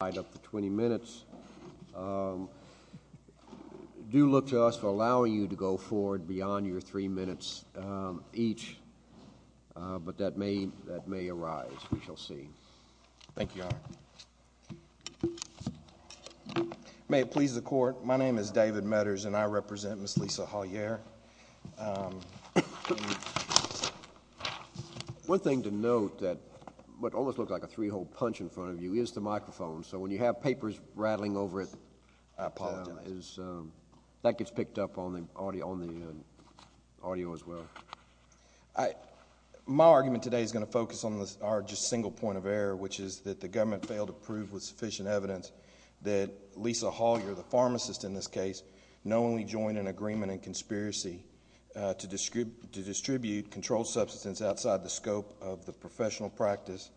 Thank you, Your Honor. May it please the Court, my name is David Meaders and I represent Ms. Lisa Hollier. One thing to note that almost looks like a three-hole punch in front of you is the microphone, so when you have papers rattling over it, that gets picked up on the audio as well. My argument today is going to focus on our single point of error, which is that the government failed to prove with sufficient evidence that Lisa Hollier, the pharmacist in this case, knowingly joined an agreement and conspiracy to distribute controlled substance outside the scope of the professional practice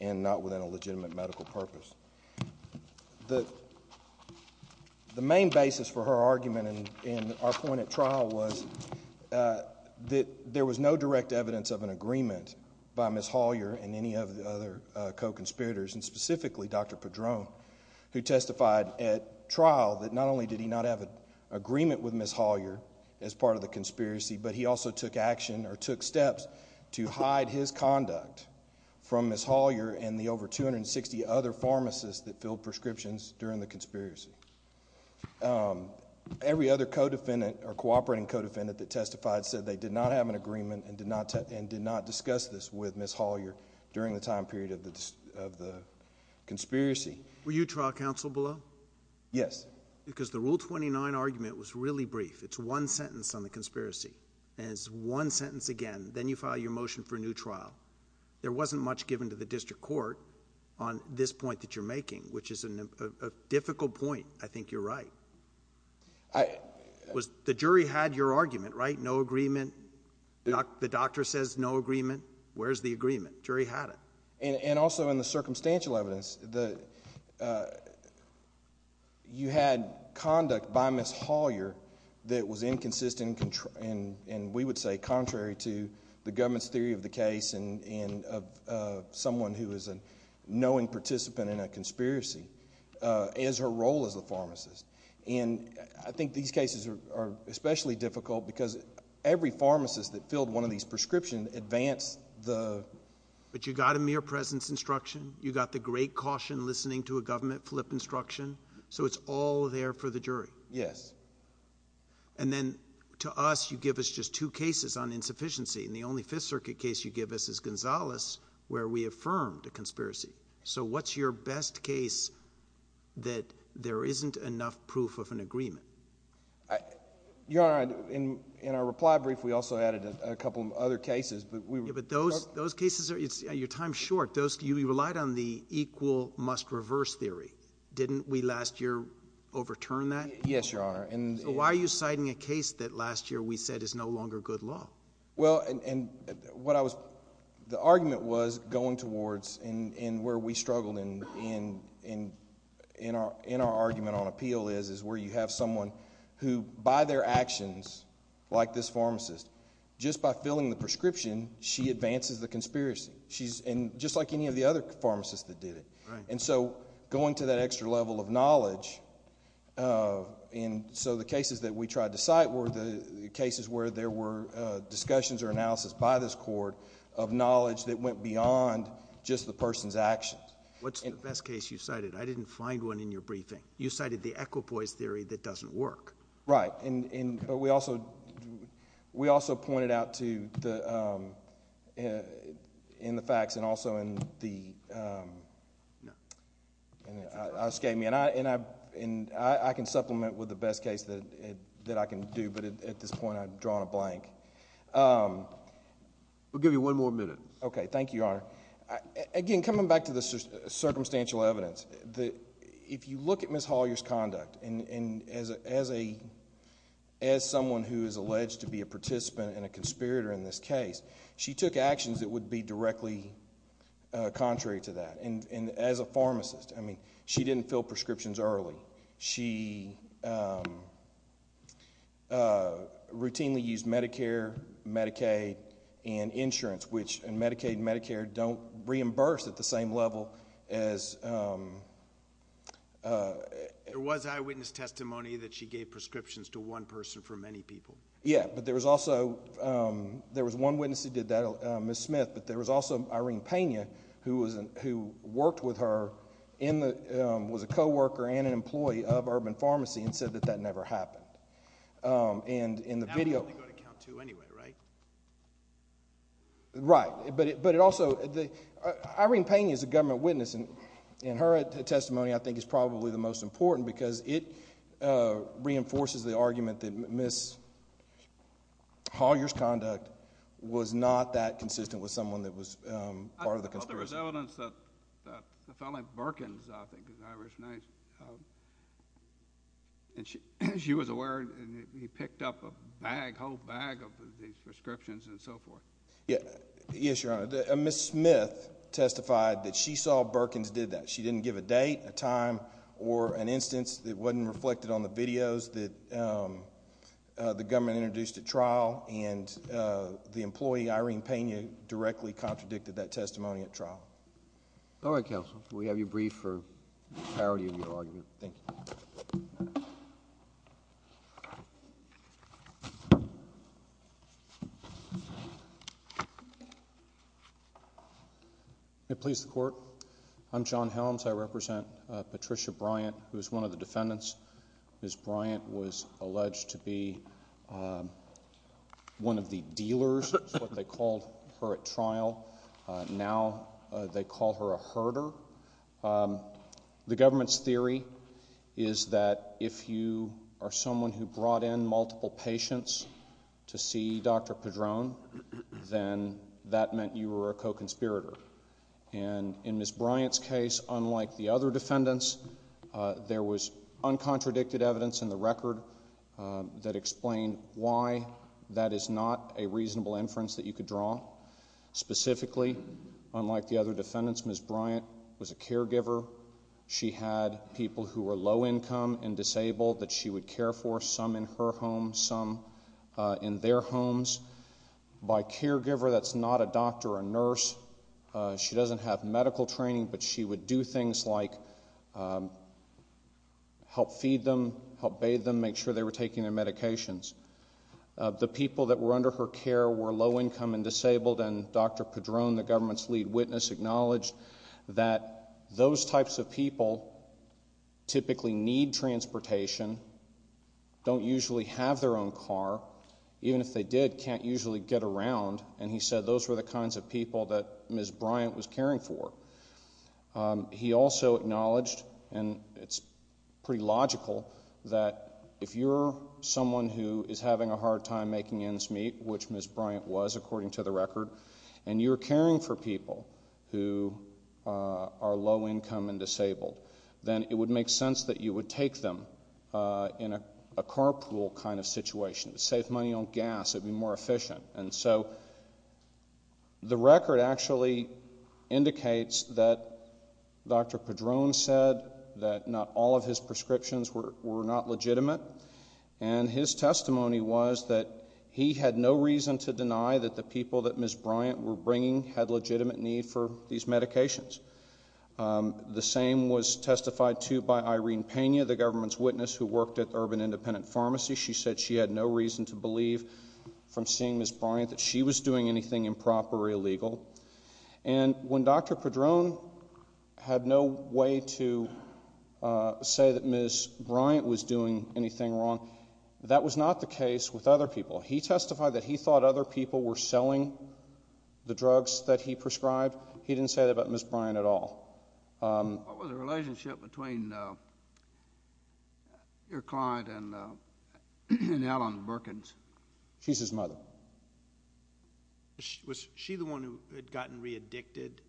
and not within a legitimate medical purpose. The main basis for her argument in our point at trial was that there was no direct evidence of an agreement by Ms. Hollier and any of the other co-conspirators, and specifically Dr. Pedrone, who testified at trial that not only did he not have an agreement with Ms. Hollier as part of the conspiracy, but he also took action or took steps to hide his conduct from Ms. Hollier and the over 260 other pharmacists that filled prescriptions during the conspiracy. Every other co-defendant or cooperating co-defendant that testified said they did not have an agreement and did not discuss this with Ms. Hollier during the time period of the conspiracy. Were you trial counsel below? Yes. Because the Rule 29 argument was really brief. It's one sentence on the conspiracy, and it's one sentence again, then you file your motion for a new trial. There wasn't much given to the district court on this point that you're making, which is a difficult point. I think you're right. The jury had your argument, right? No agreement. The doctor says no agreement. Where's the agreement? Jury had it. Also, in the circumstantial evidence, you had conduct by Ms. Hollier that was inconsistent and, we would say, contrary to the government's theory of the case and of someone who is a knowing participant in a conspiracy as her role as a pharmacist. I think these cases are especially difficult because every pharmacist that filled one of these prescriptions advanced the... You got a mere presence instruction. You got the great caution listening to a government flip instruction, so it's all there for the jury. Yes. Then, to us, you give us just two cases on insufficiency, and the only Fifth Circuit case you give us is Gonzales, where we affirmed a conspiracy. What's your best case that there isn't enough proof of an agreement? Your Honor, in our reply brief, we also added a couple of other cases, but we were... Those cases, your time's short. You relied on the equal must reverse theory. Didn't we last year overturn that? Yes, Your Honor. Why are you citing a case that last year we said is no longer good law? Well, the argument was going towards, and where we struggled in our argument on appeal is where you have someone who, by their actions, like this pharmacist, just by filling the prescription, she advances the conspiracy, just like any of the other pharmacists that did it. Right. Going to that extra level of knowledge, so the cases that we tried to cite were the cases where there were discussions or analysis by this court of knowledge that went beyond just the person's actions. What's the best case you cited? I didn't find one in your briefing. You cited the equipoise theory that doesn't work. Right, but we also pointed out to the... in the facts and also in the... No. That's incorrect. And I can supplement with the best case that I can do, but at this point, I'm drawing a blank. We'll give you one more minute. Thank you, Your Honor. Again, coming back to the circumstantial evidence, if you look at Ms. Hollier's conduct, as someone who is alleged to be a participant and a conspirator in this case, she took actions that would be directly contrary to that, and as a pharmacist, I mean, she didn't fill prescriptions early. She routinely used Medicare, Medicaid, and insurance, which in Medicaid and Medicare don't reimburse at the same level as... There was eyewitness testimony that she gave prescriptions to one person for many people. Yeah, but there was also... there was one witness who did that, Ms. Smith, but there was also Irene Pena, who worked with her, was a co-worker and an employee of Urban Pharmacy, and said that that never happened. And in the video... Now you're going to count two anyway, right? Right, but it also... Irene Pena is a government witness, and her testimony, I think, is probably the most important because it reinforces the argument that Ms. Hollier's conduct was not that consistent with someone that was part of the conspiracy. I thought there was evidence that a fellow at Birkin's, I think, is Irish, and she was aware, and he picked up a bag, a whole bag of these prescriptions and so forth. Yes, Your Honor, Ms. Smith testified that she saw Birkin's did that. She didn't give a date, a time, or an instance that wasn't reflected on the videos that the employee, Irene Pena, directly contradicted that testimony at trial. All right, counsel. We have you briefed for the clarity of your argument. Thank you. May it please the Court? I'm John Helms. I represent Patricia Bryant, who is one of the defendants. Ms. Bryant was alleged to be one of the dealers, is what they called her at trial. Now they call her a herder. The government's theory is that if you are someone who brought in multiple patients to see Dr. Padron, then that meant you were a co-conspirator, and in Ms. Bryant's case, unlike the other defendants, there was uncontradicted evidence in the record that explained why that is not a reasonable inference that you could draw. Specifically, unlike the other defendants, Ms. Bryant was a caregiver. She had people who were low income and disabled that she would care for, some in her home, some in their homes. She doesn't have medical training, but she would do things like help feed them, help bathe them, make sure they were taking their medications. The people that were under her care were low income and disabled, and Dr. Padron, the government's lead witness, acknowledged that those types of people typically need transportation, don't usually have their own car, even if they did, can't usually get around, and he said those were the kinds of people that Ms. Bryant was caring for. He also acknowledged, and it's pretty logical, that if you're someone who is having a hard time making ends meet, which Ms. Bryant was, according to the record, and you're caring for people who are low income and disabled, then it would make sense that you would take them in a carpool kind of situation, save money on gas, it would be more efficient. And so, the record actually indicates that Dr. Padron said that not all of his prescriptions were not legitimate, and his testimony was that he had no reason to deny that the people that Ms. Bryant were bringing had legitimate need for these medications. The same was testified to by Irene Pena, the government's witness who worked at Urban Independent Pharmacy. She said she had no reason to believe, from seeing Ms. Bryant, that she was doing anything improper or illegal. And when Dr. Padron had no way to say that Ms. Bryant was doing anything wrong, that was not the case with other people. He testified that he thought other people were selling the drugs that he prescribed. He didn't say that about Ms. Bryant at all. What was the relationship between your client and Alan Perkins? She's his mother. Was she the one who had gotten re-addicted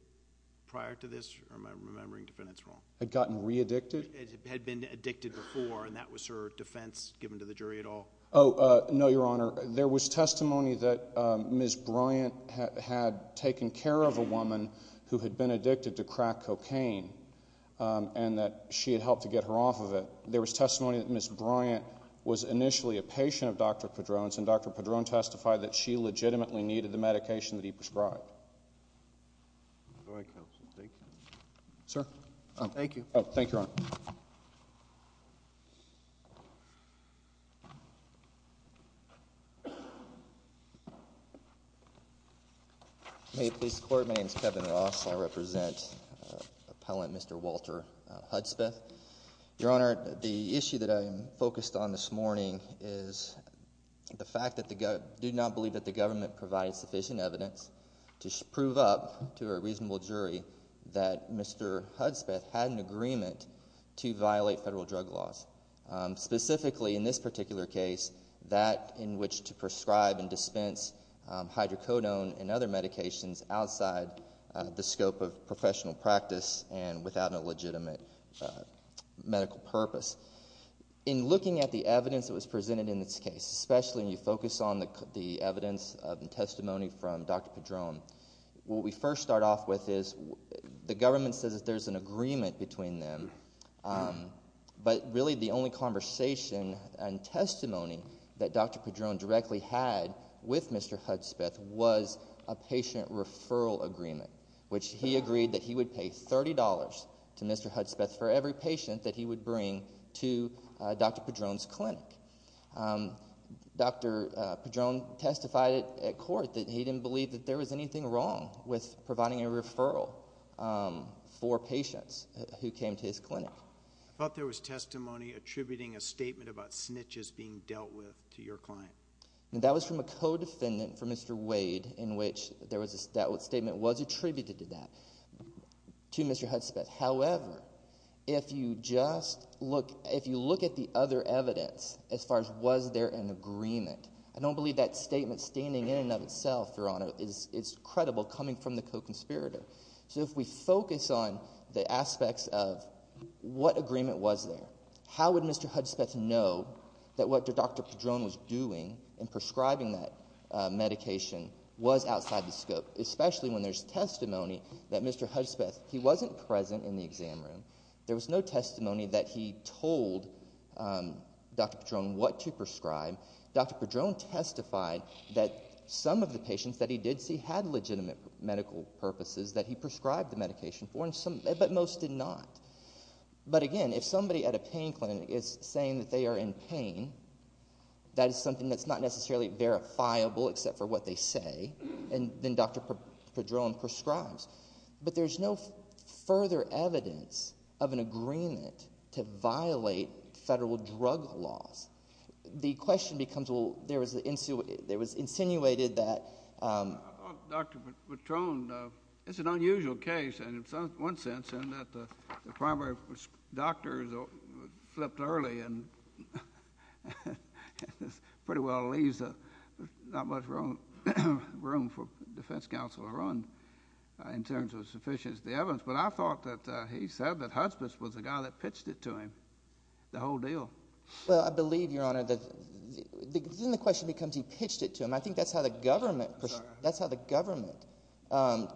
prior to this, or am I remembering defendants wrong? Had gotten re-addicted? Had been addicted before, and that was her defense given to the jury at all? Oh, no, Your Honor. There was testimony that Ms. Bryant had taken care of a woman who had been addicted to crack and cocaine, and that she had helped to get her off of it. There was testimony that Ms. Bryant was initially a patient of Dr. Padron's, and Dr. Padron testified that she legitimately needed the medication that he prescribed. Go ahead, counsel. Thank you. Sir? Thank you. Thank you, Your Honor. May it please the Court, my name is Kevin Ross. I represent Appellant Mr. Walter Hudspeth. Your Honor, the issue that I am focused on this morning is the fact that I do not believe that the government provided sufficient evidence to prove up to a reasonable jury that Mr. Hudspeth had an agreement to violate federal drug laws. Specifically, in this particular case, that in which to prescribe and dispense hydrocodone and other medications outside the scope of professional practice and without a legitimate medical purpose. In looking at the evidence that was presented in this case, especially when you focus on the evidence and testimony from Dr. Padron, what we first start off with is the government says that there is an agreement between them, but really the only conversation and testimony that Dr. Padron directly had with Mr. Hudspeth was a patient referral agreement, which he agreed that he would pay $30 to Mr. Hudspeth for every patient that he would bring to Dr. Padron's clinic. Dr. Padron testified at court that he didn't believe that there was anything wrong with four patients who came to his clinic. I thought there was testimony attributing a statement about snitches being dealt with to your client. That was from a co-defendant for Mr. Wade in which that statement was attributed to that, to Mr. Hudspeth. However, if you look at the other evidence as far as was there an agreement, I don't believe that statement standing in and of itself, Your Honor, is credible coming from the co-conspirator. So if we focus on the aspects of what agreement was there, how would Mr. Hudspeth know that what Dr. Padron was doing in prescribing that medication was outside the scope, especially when there's testimony that Mr. Hudspeth, he wasn't present in the exam room. There was no testimony that he told Dr. Padron what to prescribe. Dr. Padron testified that some of the patients that he did see had legitimate medical purposes that he prescribed the medication for, but most did not. But again, if somebody at a pain clinic is saying that they are in pain, that is something that's not necessarily verifiable except for what they say, and then Dr. Padron prescribes. But there's no further evidence of an agreement to violate federal drug laws. The question becomes, well, there was insinuated that— Well, Dr. Padron, it's an unusual case in one sense in that the primary doctor flipped early and pretty well leaves not much room for defense counsel to run in terms of sufficient evidence. But I thought that he said that Hudspeth was the guy that pitched it to him, the whole deal. Well, I believe, Your Honor, that—then the question becomes, he pitched it to him. I think that's how the government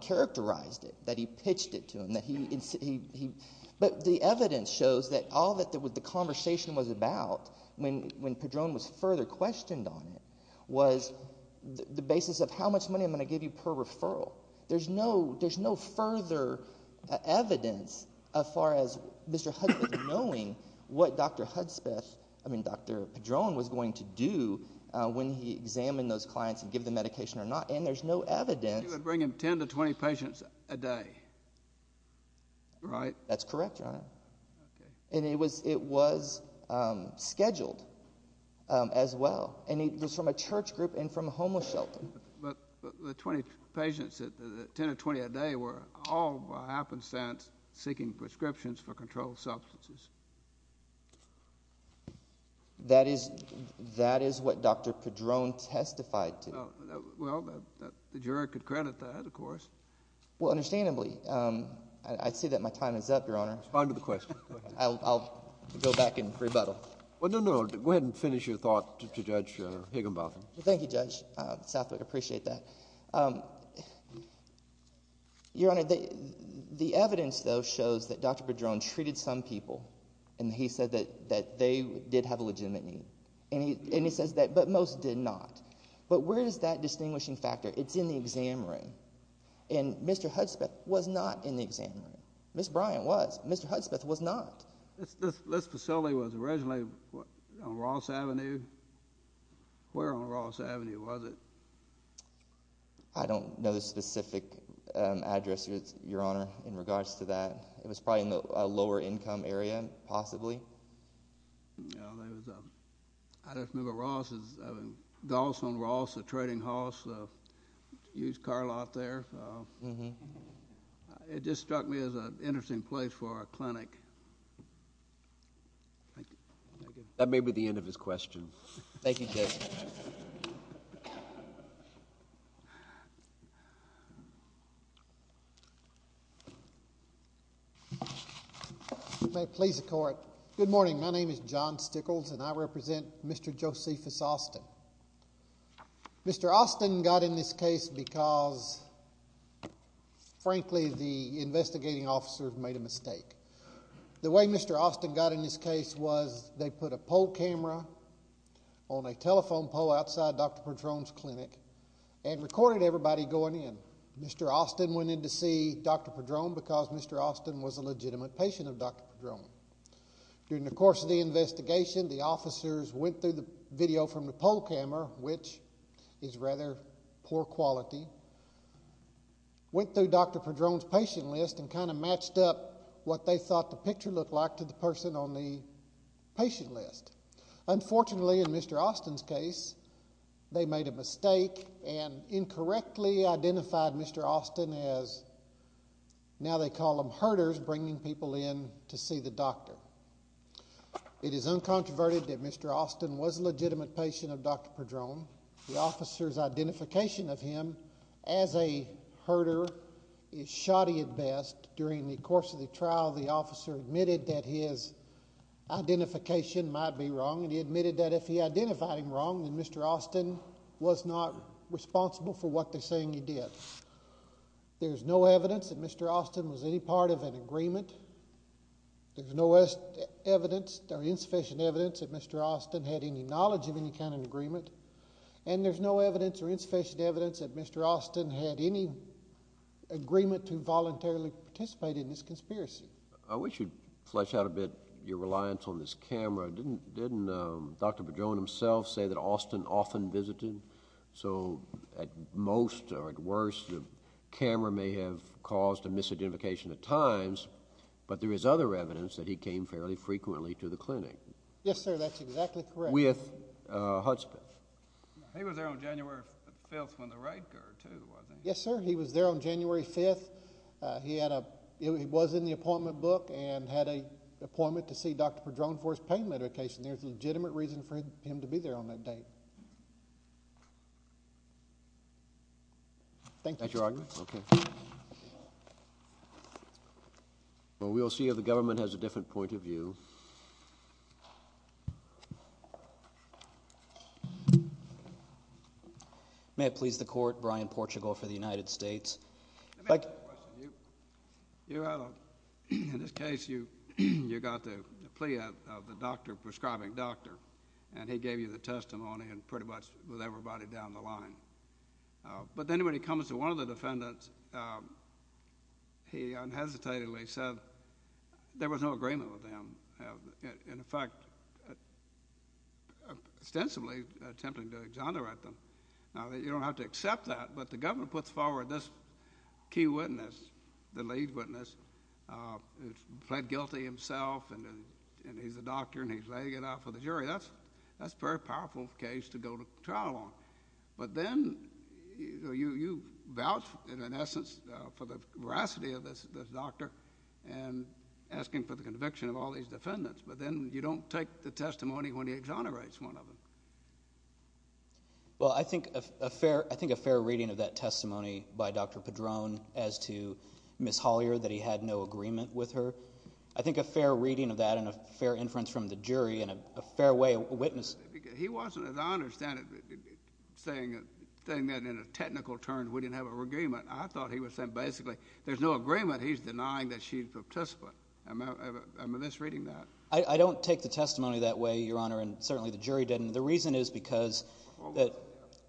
characterized it, that he pitched it to him. But the evidence shows that all that the conversation was about when Padron was further questioned on it was the basis of how much money I'm going to give you per referral. There's no further evidence as far as Mr. Hudspeth knowing what Dr. Padron was going to do when he examined those clients and give the medication or not. And there's no evidence— You would bring him 10 to 20 patients a day, right? That's correct, Your Honor. And it was scheduled as well. And it was from a church group and from a homeless shelter. But the 20 patients, the 10 to 20 a day were all, by happenstance, seeking prescriptions for controlled substances. That is what Dr. Padron testified to. Well, the juror could credit that, of course. Well, understandably. I see that my time is up, Your Honor. Respond to the question. I'll go back and rebuttal. Well, no, no. Go ahead and finish your thought to Judge Higginbotham. Thank you, Judge Southwick. I appreciate that. Your Honor, the evidence, though, shows that Dr. Padron treated some people. And he said that they did have a legitimate need. And he says that most did not. But where is that distinguishing factor? It's in the exam room. And Mr. Hudspeth was not in the exam room. Ms. Bryant was. Mr. Hudspeth was not. This facility was originally on Ross Avenue. Where on Ross Avenue was it? I don't know the specific address, Your Honor, in regards to that. It was probably in the lower income area, possibly. I don't remember. Ross is in Galson, Ross, a trading house, a huge car lot there. It just struck me as an interesting place for a clinic. Thank you. Thank you, Judge. Thank you. May it please the Court. Good morning. My name is John Stickles, and I represent Mr. Josephus Austin. Mr. Austin got in this case because, frankly, the investigating officers made a mistake. The way Mr. Austin got in this case was they put a poll camera on a telephone pole outside Dr. Padron's clinic and recorded everybody going in. Mr. Austin went in to see Dr. Padron because Mr. Austin was a legitimate patient of Dr. Padron. During the course of the investigation, the officers went through the video from the poll camera, which is rather poor quality, went through Dr. Padron's patient list, and kind of matched up what they thought the picture looked like to the person on the patient list. Unfortunately, in Mr. Austin's case, they made a mistake and incorrectly identified Mr. Austin as, now they call him herders, bringing people in to see the doctor. It is uncontroverted that Mr. Austin was a legitimate patient of Dr. Padron. The officers' identification of him as a herder is shoddy at best. During the course of the trial, the officer admitted that his identification might be wrong, and he admitted that if he identified him wrong, then Mr. Austin was not responsible for what they're saying he did. There's no evidence that Mr. Austin was any part of an agreement. There's no evidence or insufficient evidence that Mr. Austin had any knowledge of any kind of agreement, and there's no evidence or insufficient evidence that Mr. Austin had any agreement to voluntarily participate in this conspiracy. I wish you'd flesh out a bit your reliance on this camera. Didn't Dr. Padron himself say that Austin often visited? So at most or at worst, the camera may have caused a misidentification at times, but there is other evidence that he came fairly frequently to the clinic. Yes, sir, that's exactly correct. With Hudson. He was there on January 5th when the raid occurred, too, wasn't he? Yes, sir, he was there on January 5th. He was in the appointment book and had an appointment to see Dr. Padron for his pain medication. There's legitimate reason for him to be there on that date. Thank you. Thank you, Your Honor. Well, we'll see if the government has a different point of view. May it please the Court, Brian Portugal for the United States. Thank you. Let me ask you a question. In this case, you got the plea of the doctor, prescribing doctor, and he gave you the testimony and pretty much with everybody down the line. But then when it comes to one of the defendants, he unhesitatingly said there was no agreement with him. In fact, extensively attempting to exonerate them. Now, you don't have to accept that, but the government puts forward this key witness, the lead witness, who's pled guilty himself and he's a doctor and he's laying it out for the jury. That's a very powerful case to go to trial on. But then you vouch, in essence, for the veracity of this doctor and asking for the conviction of all these defendants, but then you don't take the testimony when he exonerates one of them. Well, I think a fair reading of that testimony by Dr. Padrone as to Ms. Hollier, that he had no agreement with her. I think a fair reading of that and a fair inference from the jury and a fair way of witnessing. He wasn't, as I understand it, saying that in a technical term we didn't have an agreement. I thought he was saying basically there's no agreement. He's denying that she's a participant. I'm at least reading that. I don't take the testimony that way, Your Honor, and certainly the jury didn't. The reason is because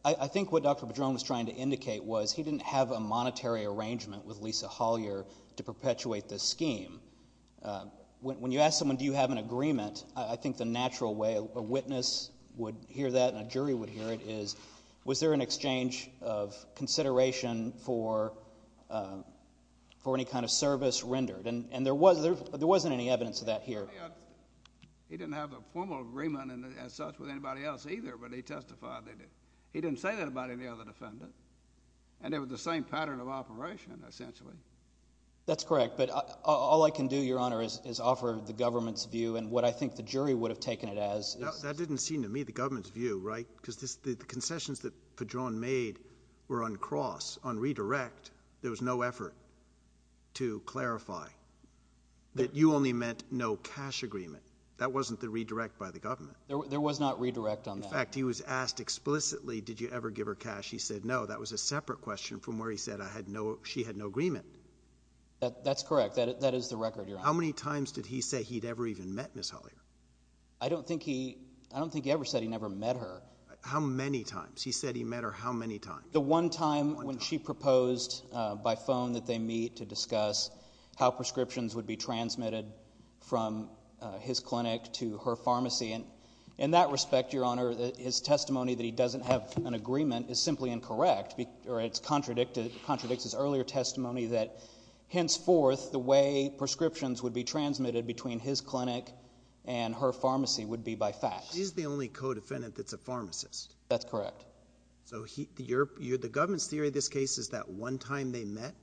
I think what Dr. Padrone was trying to indicate was he didn't have a monetary arrangement with Lisa Hollier to perpetuate this scheme. When you ask someone do you have an agreement, I think the natural way a witness would hear that and a jury would hear it is was there an exchange of consideration for any kind of service rendered? And there wasn't any evidence of that here. He didn't have a formal agreement as such with anybody else either, but he testified. He didn't say that about any other defendant, and it was the same pattern of operation essentially. That's correct, but all I can do, Your Honor, is offer the government's view and what I think the jury would have taken it as. That didn't seem to me the government's view, right? Because the concessions that Padrone made were on cross, on redirect. There was no effort to clarify that you only meant no cash agreement. That wasn't the redirect by the government. There was not redirect on that. In fact, he was asked explicitly did you ever give her cash. He said no. That was a separate question from where he said she had no agreement. That's correct. That is the record, Your Honor. How many times did he say he'd ever even met Ms. Hollier? I don't think he ever said he never met her. How many times? He said he met her how many times? The one time when she proposed by phone that they meet to discuss how prescriptions would be transmitted from his clinic to her pharmacy. In that respect, Your Honor, his testimony that he doesn't have an agreement is simply incorrect, or it contradicts his earlier testimony that henceforth the way prescriptions would be transmitted between his clinic and her pharmacy would be by fax. She's the only co-defendant that's a pharmacist. That's correct. So the government's theory of this case is that one time they met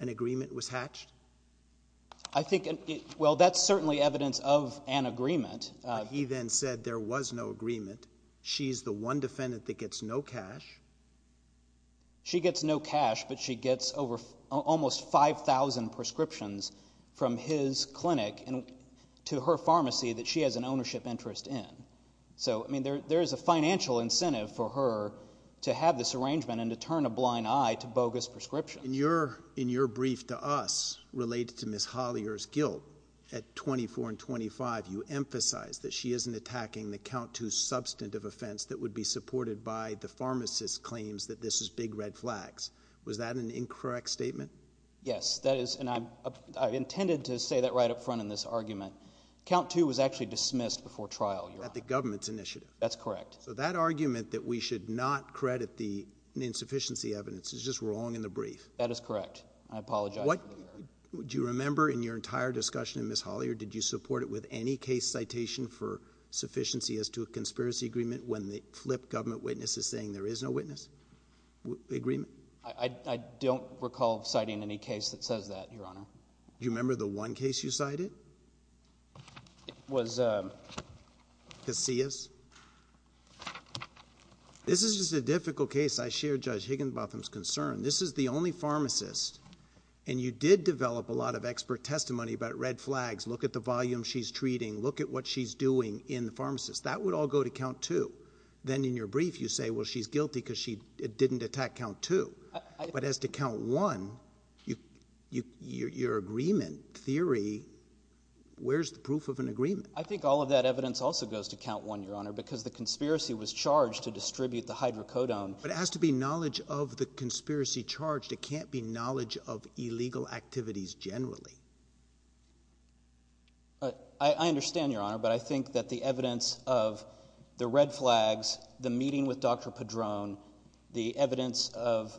an agreement was hatched? Well, that's certainly evidence of an agreement. He then said there was no agreement. She's the one defendant that gets no cash. She gets no cash, but she gets almost 5,000 prescriptions from his clinic to her pharmacy that she has an ownership interest in. So, I mean, there is a financial incentive for her to have this arrangement and to turn a blind eye to bogus prescriptions. In your brief to us related to Ms. Hollier's guilt at 24 and 25, you emphasized that she isn't attacking the count two substantive offense that would be supported by the pharmacist's claims that this is big red flags. Was that an incorrect statement? Yes, that is, and I intended to say that right up front in this argument. Count two was actually dismissed before trial, Your Honor. At the government's initiative? That's correct. So that argument that we should not credit the insufficiency evidence is just wrong in the brief? That is correct. I apologize for the error. Do you remember in your entire discussion with Ms. Hollier, did you support it with any case citation for sufficiency as to a conspiracy agreement when the flip government witness is saying there is no witness agreement? I don't recall citing any case that says that, Your Honor. Do you remember the one case you cited? It was... Casillas? This is just a difficult case. I share Judge Higginbotham's concern. This is the only pharmacist, and you did develop a lot of expert testimony about red flags, look at the volume she's treating, look at what she's doing in the pharmacist. That would all go to count two. Then in your brief you say, well, she's guilty because she didn't attack count two. But as to count one, your agreement theory, where's the proof of an agreement? I think all of that evidence also goes to count one, Your Honor, because the conspiracy was charged to distribute the hydrocodone. But it has to be knowledge of the conspiracy charged. It can't be knowledge of illegal activities generally. I understand, Your Honor, but I think that the evidence of the red flags, the meeting with Dr. Padron, the evidence of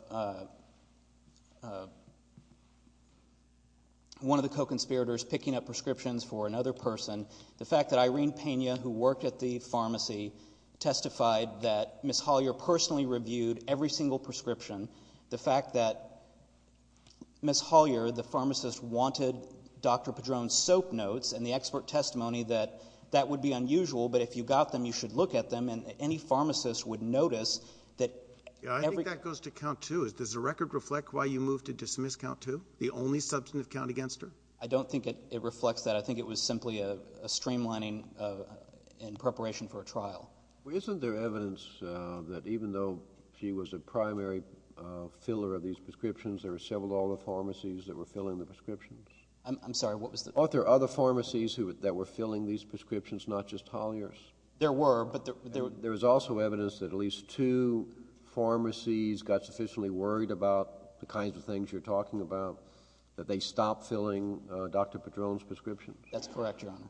one of the co-conspirators picking up prescriptions for another person, the fact that Irene Pena, who worked at the pharmacy, testified that Ms. Hollyer personally reviewed every single prescription, the fact that Ms. Hollyer, the pharmacist, wanted Dr. Padron's soap notes and the expert testimony that that would be unusual, but if you got them you should look at them, and any pharmacist would notice that every— I think that goes to count two. Does the record reflect why you moved to dismiss count two, the only substantive count against her? I don't think it reflects that. I think it was simply a streamlining in preparation for a trial. Well, isn't there evidence that even though she was a primary filler of these prescriptions, there were several other pharmacies that were filling the prescriptions? I'm sorry, what was the— Are there other pharmacies that were filling these prescriptions, not just Hollyer's? There were, but there— There is also evidence that at least two pharmacies got sufficiently worried about the kinds of things you're talking about that they stopped filling Dr. Padron's prescription? That's correct, Your Honor.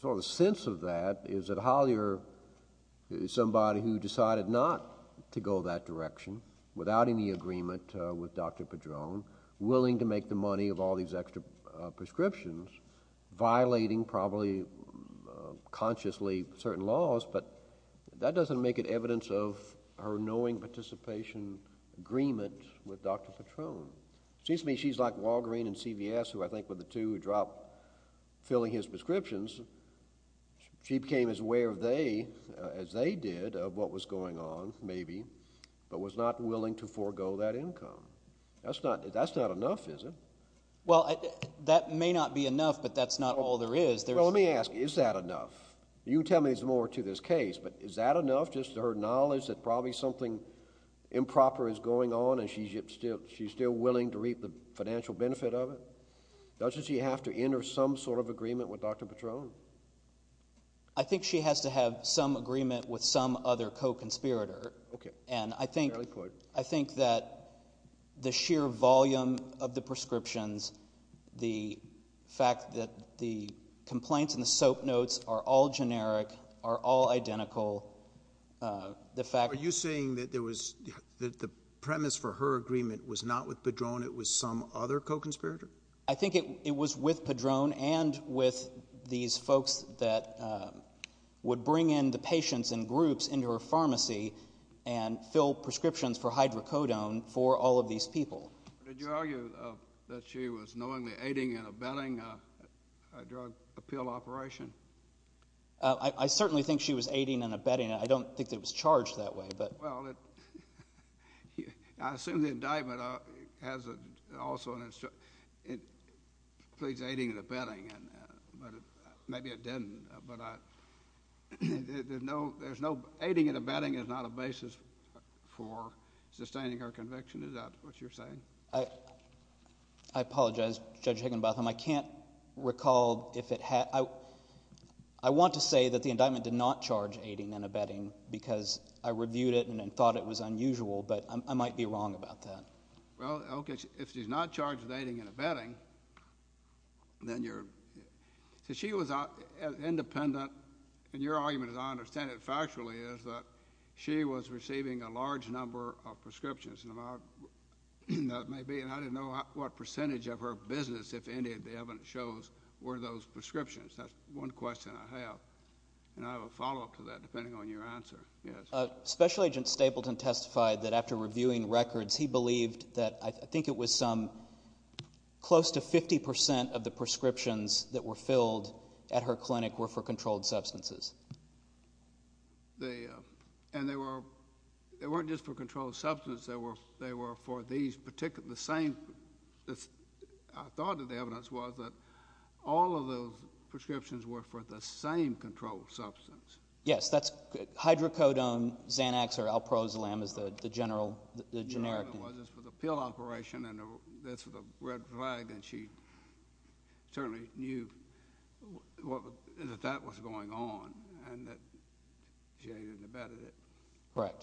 So the sense of that is that Hollyer, somebody who decided not to go that direction, without any agreement with Dr. Padron, willing to make the money of all these extra prescriptions, violating probably consciously certain laws, but that doesn't make it evidence of her knowing participation agreement with Dr. Padron. It seems to me she's like Walgreen and CVS, who I think were the two who dropped filling his prescriptions. She became as aware as they did of what was going on, maybe, but was not willing to forego that income. That's not enough, is it? Well, that may not be enough, but that's not all there is. Well, let me ask you, is that enough? You can tell me there's more to this case, but is that enough just to her knowledge that probably something improper is going on and she's still willing to reap the financial benefit of it? Doesn't she have to enter some sort of agreement with Dr. Padron? I think she has to have some agreement with some other co-conspirator. And I think that the sheer volume of the prescriptions, the fact that the complaints in the soap notes are all generic, are all identical. Are you saying that the premise for her agreement was not with Padron, it was some other co-conspirator? I think it was with Padron and with these folks that would bring in the patients in groups into her pharmacy and fill prescriptions for hydrocodone for all of these people. Did you argue that she was knowingly aiding and abetting a drug appeal operation? I certainly think she was aiding and abetting it. I don't think that it was charged that way. Well, I assume the indictment also includes aiding and abetting, but maybe it didn't. Aiding and abetting is not a basis for sustaining her conviction. Is that what you're saying? I apologize, Judge Higginbotham. I can't recall if it had. I want to say that the indictment did not charge aiding and abetting because I reviewed it and thought it was unusual, but I might be wrong about that. Well, okay, if she's not charged with aiding and abetting, then you're... So she was independent. And your argument, as I understand it factually, is that she was receiving a large number of prescriptions, and I don't know what percentage of her business, if any of the evidence shows, were those prescriptions. That's one question I have. And I have a follow-up to that, depending on your answer. Special Agent Stapleton testified that after reviewing records, he believed that I think it was close to 50% of the prescriptions that were filled at her clinic were for controlled substances. And they weren't just for controlled substances. They were for these particular, the same. I thought that the evidence was that all of those prescriptions were for the same controlled substance. Yes, that's hydrocodone, Xanax, or Alprozolam is the generic. Well, this was a pill operation, and this was a red flag, and she certainly knew that that was going on, and that she aided and abetted it. Right.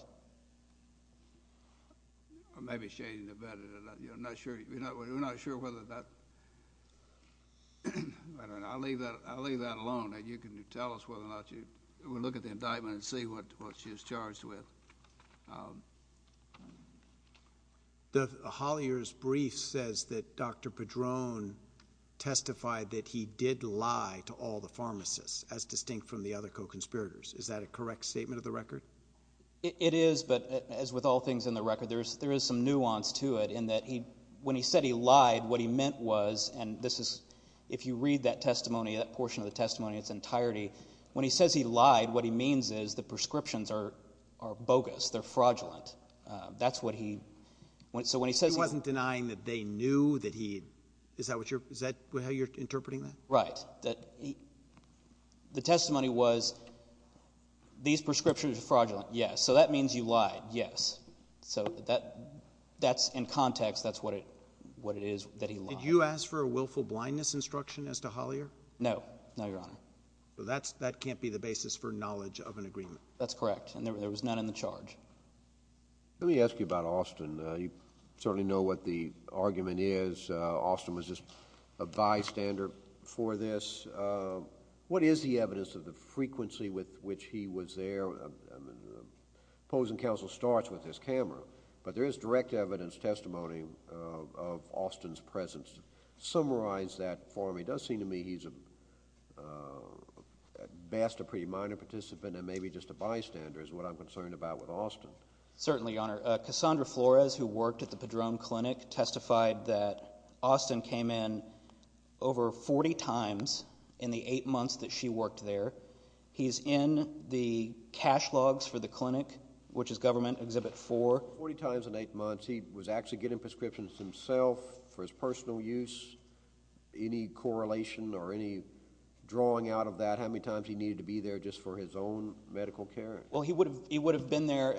Or maybe she aided and abetted it. We're not sure whether that... I'll leave that alone, and you can tell us whether or not you... Hollier's brief says that Dr. Padron testified that he did lie to all the pharmacists, as distinct from the other co-conspirators. Is that a correct statement of the record? It is, but as with all things in the record, there is some nuance to it, in that when he said he lied, what he meant was, and this is, if you read that testimony, that portion of the testimony in its entirety, when he says he lied, what he means is the prescriptions are bogus, they're fraudulent. That's what he... He wasn't denying that they knew that he... Is that how you're interpreting that? Right. The testimony was, these prescriptions are fraudulent. Yes. So that means you lied. Yes. So that's in context, that's what it is that he lied. Did you ask for a willful blindness instruction as to Hollier? No. No, Your Honor. That can't be the basis for knowledge of an agreement. That's correct, and there was none in the charge. Let me ask you about Austin. You certainly know what the argument is. Austin was just a bystander for this. What is the evidence of the frequency with which he was there? Opposing counsel starts with this camera, but there is direct evidence, testimony of Austin's presence. Summarize that for me. It does seem to me he's at best a pretty minor participant and maybe just a bystander, which is what I'm concerned about with Austin. Certainly, Your Honor. Cassandra Flores, who worked at the Padron Clinic, testified that Austin came in over 40 times in the eight months that she worked there. He's in the cash logs for the clinic, which is Government Exhibit 4. Forty times in eight months. He was actually getting prescriptions himself for his personal use. Any correlation or any drawing out of that, how many times he needed to be there just for his own medical care? He would have been there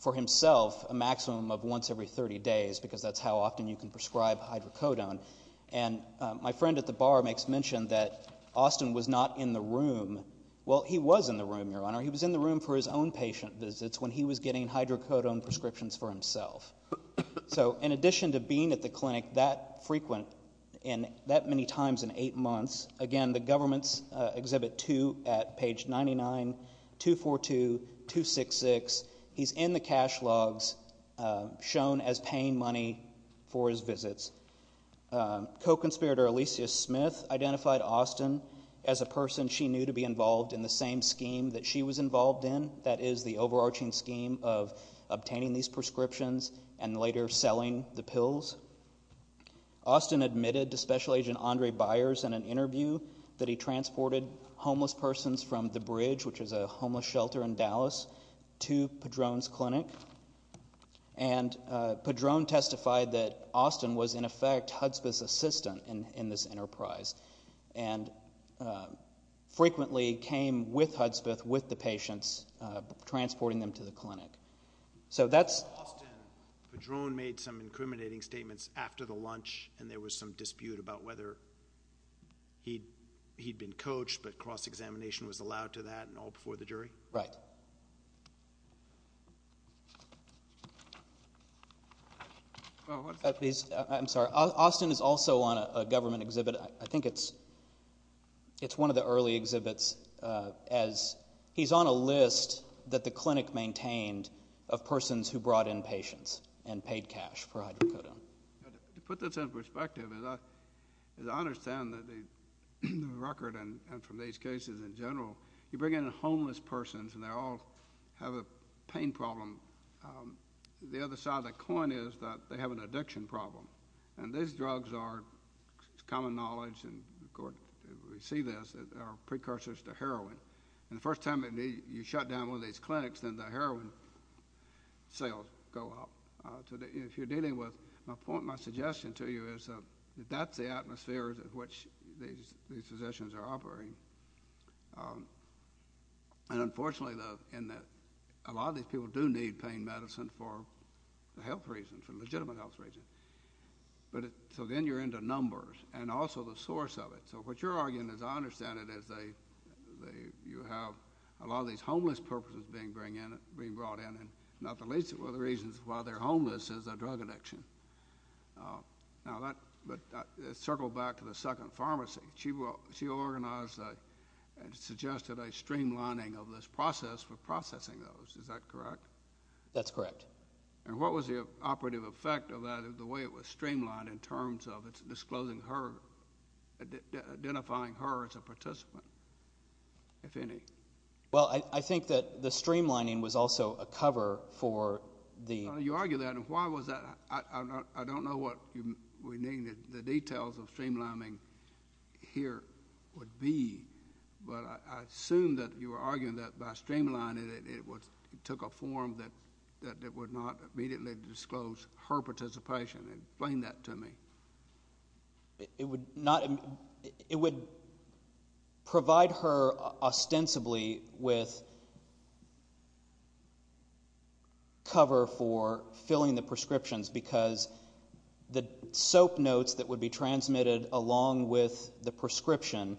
for himself a maximum of once every 30 days because that's how often you can prescribe hydrocodone. My friend at the bar makes mention that Austin was not in the room. Well, he was in the room, Your Honor. He was in the room for his own patient visits when he was getting hydrocodone prescriptions for himself. In addition to being at the clinic that frequent and that many times in eight months, again, the government's Exhibit 2 at page 99, 242, 266. He's in the cash logs shown as paying money for his visits. Co-conspirator Alicia Smith identified Austin as a person she knew to be involved in the same scheme that she was involved in, that is the overarching scheme of obtaining these prescriptions and later selling the pills. Austin admitted to Special Agent Andre Byers in an interview that he transported homeless persons from the bridge, which is a homeless shelter in Dallas, to Padron's clinic. And Padron testified that Austin was in effect Hudspeth's assistant in this enterprise and frequently came with Hudspeth with the patients, transporting them to the clinic. So that's... Austin, Padron made some incriminating statements after the lunch and there was some dispute about whether he'd been coached, but cross-examination was allowed to that and all before the jury? Right. I'm sorry. Austin is also on a government exhibit. I think it's one of the early exhibits as he's on a list that the clinic maintained of persons who brought in patients and paid cash for hydrocodone. To put this in perspective, as I understand the record and from these cases in general, you bring in homeless persons and they all have a pain problem. The other side of the coin is that they have an addiction problem, and these drugs are common knowledge, and we see this, are precursors to heroin. And the first time you shut down one of these clinics, then the heroin sales go up. If you're dealing with... My suggestion to you is that that's the atmosphere in which these physicians are operating. And unfortunately, a lot of these people do need pain medicine for the health reasons, for legitimate health reasons. So then you're into numbers and also the source of it. So what you're arguing, as I understand it, is you have a lot of these homeless persons being brought in and one of the reasons why they're homeless is a drug addiction. But circle back to the second pharmacy. She organized and suggested a streamlining of this process for processing those. Is that correct? That's correct. And what was the operative effect of that, the way it was streamlined, in terms of disclosing her, identifying her as a participant, if any? Well, I think that the streamlining was also a cover for the... You argue that, and why was that? I don't know what we mean, the details of streamlining here would be, but I assume that you are arguing that by streamlining it, it took a form that it would not immediately disclose her participation. Explain that to me. It would provide her, ostensibly, with cover for filling the prescriptions because the soap notes that would be transmitted along with the prescription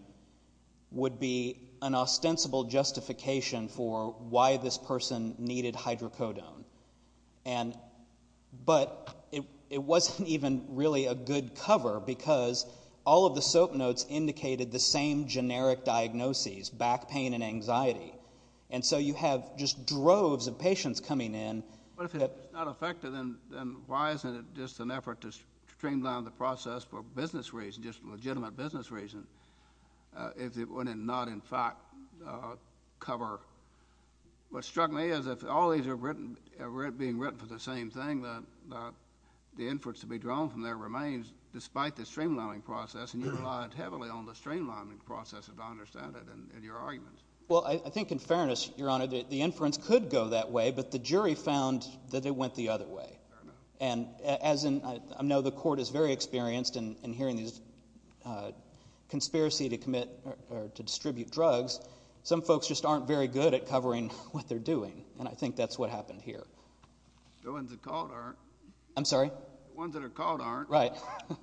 would be an ostensible justification for why this person needed hydrocodone. But it wasn't even really a good cover because all of the soap notes indicated the same generic diagnoses, back pain and anxiety. And so you have just droves of patients coming in. But if it's not effective, then why isn't it just an effort to streamline the process for business reasons, just legitimate business reasons, if it would not, in fact, cover? What struck me is if all these are being written for the same thing, the inference to be drawn from there remains, despite the streamlining process, and you relied heavily on the streamlining process, if I understand it, in your arguments. Well, I think, in fairness, Your Honor, the inference could go that way, but the jury found that it went the other way. And as I know the court is very experienced in hearing these conspiracy to commit or to distribute drugs, some folks just aren't very good at covering what they're doing, and I think that's what happened here. The ones that are called aren't. I'm sorry? The ones that are called aren't. Right. Thank you.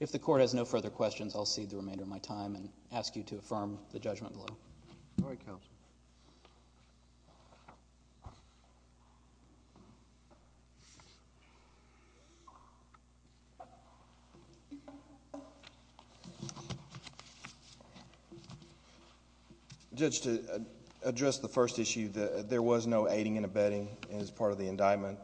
If the court has no further questions, I'll cede the remainder of my time and ask you to affirm the judgment below. All right, counsel. Judge, to address the first issue, there was no aiding and abetting as part of the indictment.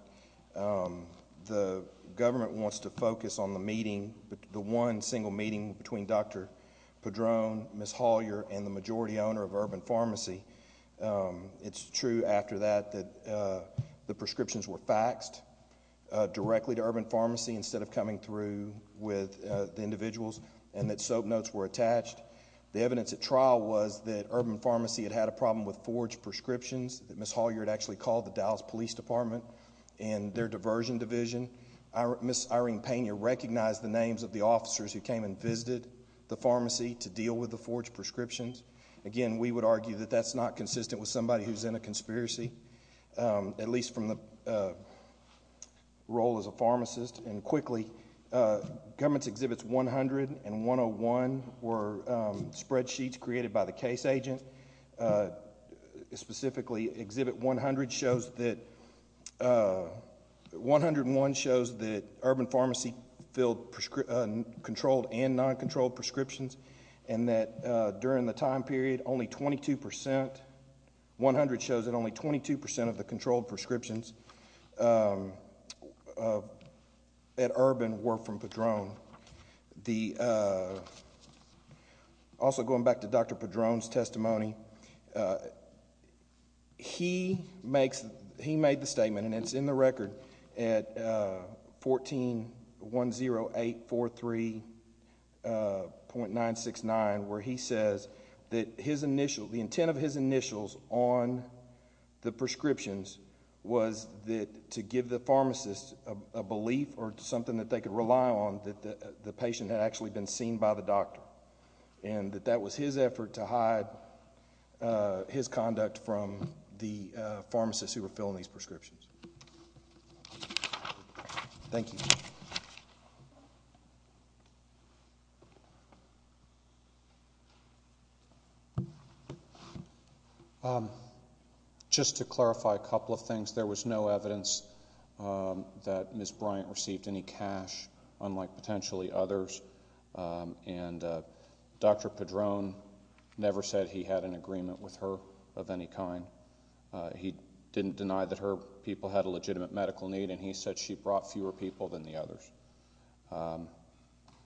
The government wants to focus on the meeting, the one single meeting between Dr. Padron, Ms. Hollyer, and the majority owner of Urban Pharmacy. It's true after that that the prescriptions were faxed directly to Urban Pharmacy instead of coming through with the individuals and that soap notes were attached. The evidence at trial was that Urban Pharmacy had had a problem with forged prescriptions that Ms. Hollyer had actually called the Dallas Police Department and their diversion division. Ms. Irene Pena recognized the names of the officers who came and visited the pharmacy to deal with the forged prescriptions. Again, we would argue that that's not consistent with somebody who's in a conspiracy, at least from the role as a pharmacist. And quickly, Government Exhibits 100 and 101 were spreadsheets created by the case agent. Specifically, Exhibit 101 shows that Urban Pharmacy filled controlled and non-controlled prescriptions and that during the time period, only 22% of the controlled prescriptions at Urban were from Padron. Also going back to Dr. Padron's testimony, he made the statement, and it's in the record, at 1410843.969 where he says that the intent of his initials on the prescriptions was that to give the pharmacist a belief or something that they could rely on that the patient had actually been seen by the doctor. And that that was his effort to hide his conduct from the pharmacists who were filling these prescriptions. Thank you. Just to clarify a couple of things. There was no evidence that Ms. Bryant received any cash, unlike potentially others. And Dr. Padron never said he had an agreement with her of any kind. He didn't deny that her people had a legitimate medical need, and he said she brought fewer people than the others.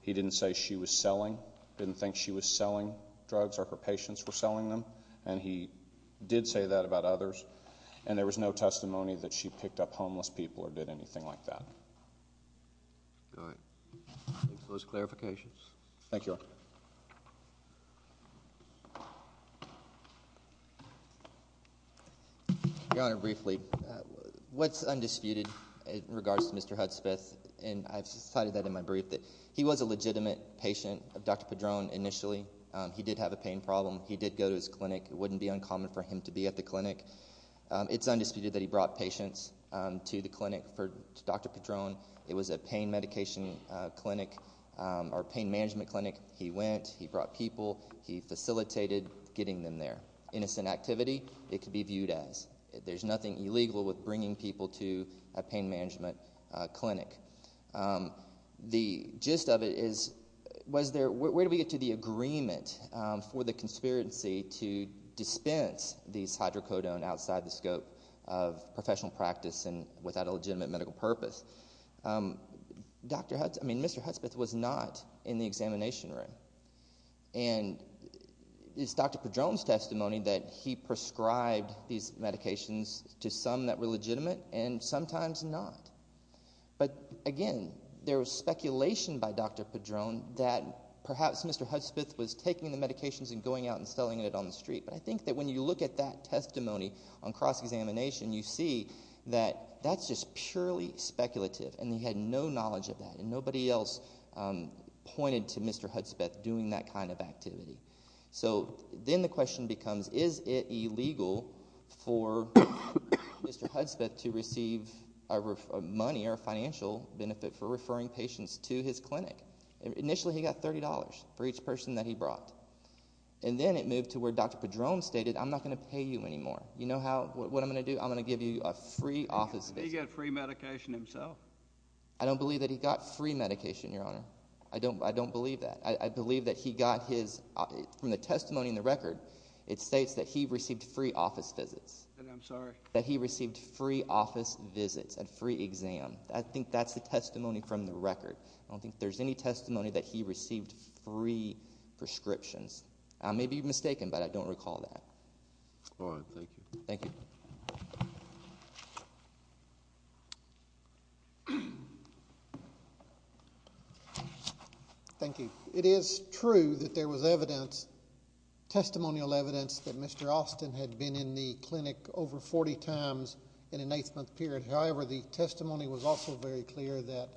He didn't say she was selling, didn't think she was selling drugs or her patients were selling them, and he did say that about others. And there was no testimony that she picked up homeless people or did anything like that. All right. Those clarifications. Thank you, Your Honor. Your Honor, briefly, what's undisputed in regards to Mr. Hudspeth, and I've cited that in my brief, that he was a legitimate patient of Dr. Padron initially. He did have a pain problem. He did go to his clinic. It wouldn't be uncommon for him to be at the clinic. It's undisputed that he brought patients to the clinic for Dr. Padron. It was a pain medication clinic or pain management clinic. He went. He brought people. He facilitated getting them there. Innocent activity, it could be viewed as. There's nothing illegal with bringing people to a pain management clinic. The gist of it is where do we get to the agreement for the conspiracy to dispense these hydrocodone outside the scope of professional practice and without a legitimate medical purpose? I mean, Mr. Hudspeth was not in the examination room. And it's Dr. Padron's testimony that he prescribed these medications to some that were legitimate and sometimes not. But, again, there was speculation by Dr. Padron that perhaps Mr. Hudspeth was taking the medications and going out and selling it on the street. But I think that when you look at that testimony on cross-examination, you see that that's just purely speculative. And he had no knowledge of that. And nobody else pointed to Mr. Hudspeth doing that kind of activity. So then the question becomes, is it illegal for Mr. Hudspeth to receive money or financial benefit for referring patients to his clinic? Initially, he got $30 for each person that he brought. And then it moved to where Dr. Padron stated, I'm not going to pay you anymore. You know what I'm going to do? I'm going to give you a free office visit. He got free medication himself. I don't believe that he got free medication, Your Honor. I don't believe that. I believe that he got his, from the testimony in the record, it states that he received free office visits. I'm sorry? That he received free office visits and free exam. I think that's the testimony from the record. I don't think there's any testimony that he received free prescriptions. I may be mistaken, but I don't recall that. All right. Thank you. Thank you. Thank you. It is true that there was evidence, testimonial evidence, that Mr. Austin had been in the clinic over 40 times in an 8-month period. However, the testimony was also very clear that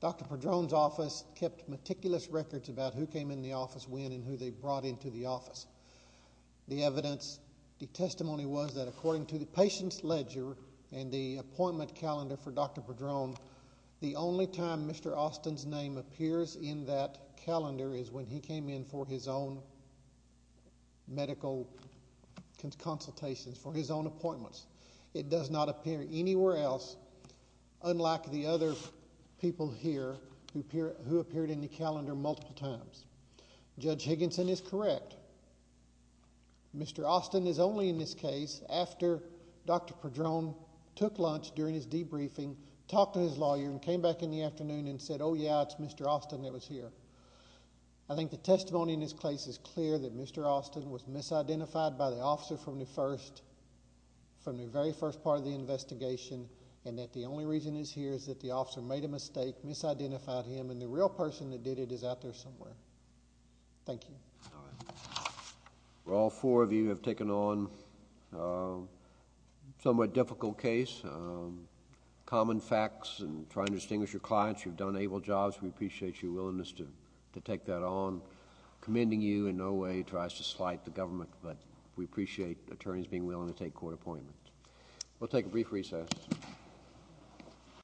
Dr. Padron's office kept meticulous records about who came in the office when and who they brought into the office. The evidence, the testimony was that according to the patient's ledger and the appointment calendar for Dr. Padron, the only time Mr. Austin's name appears in that calendar is when he came in for his own medical consultations, for his own appointments. It does not appear anywhere else, unlike the other people here who appeared in the calendar multiple times. Judge Higginson is correct. Mr. Austin is only in this case after Dr. Padron took lunch during his debriefing, talked to his lawyer, and came back in the afternoon and said, oh yeah, it's Mr. Austin that was here. I think the testimony in this case is clear that Mr. Austin was misidentified by the officer from the very first part of the investigation, and that the only reason he's here is that the officer made a mistake, misidentified him, and the real person that did it is out there somewhere. Thank you. All right. All four of you have taken on a somewhat difficult case, common facts and trying to distinguish your clients. You've done able jobs. We appreciate your willingness to take that on. Commending you in no way tries to slight the government, but we appreciate attorneys being willing to take court appointments. We'll take a brief recess.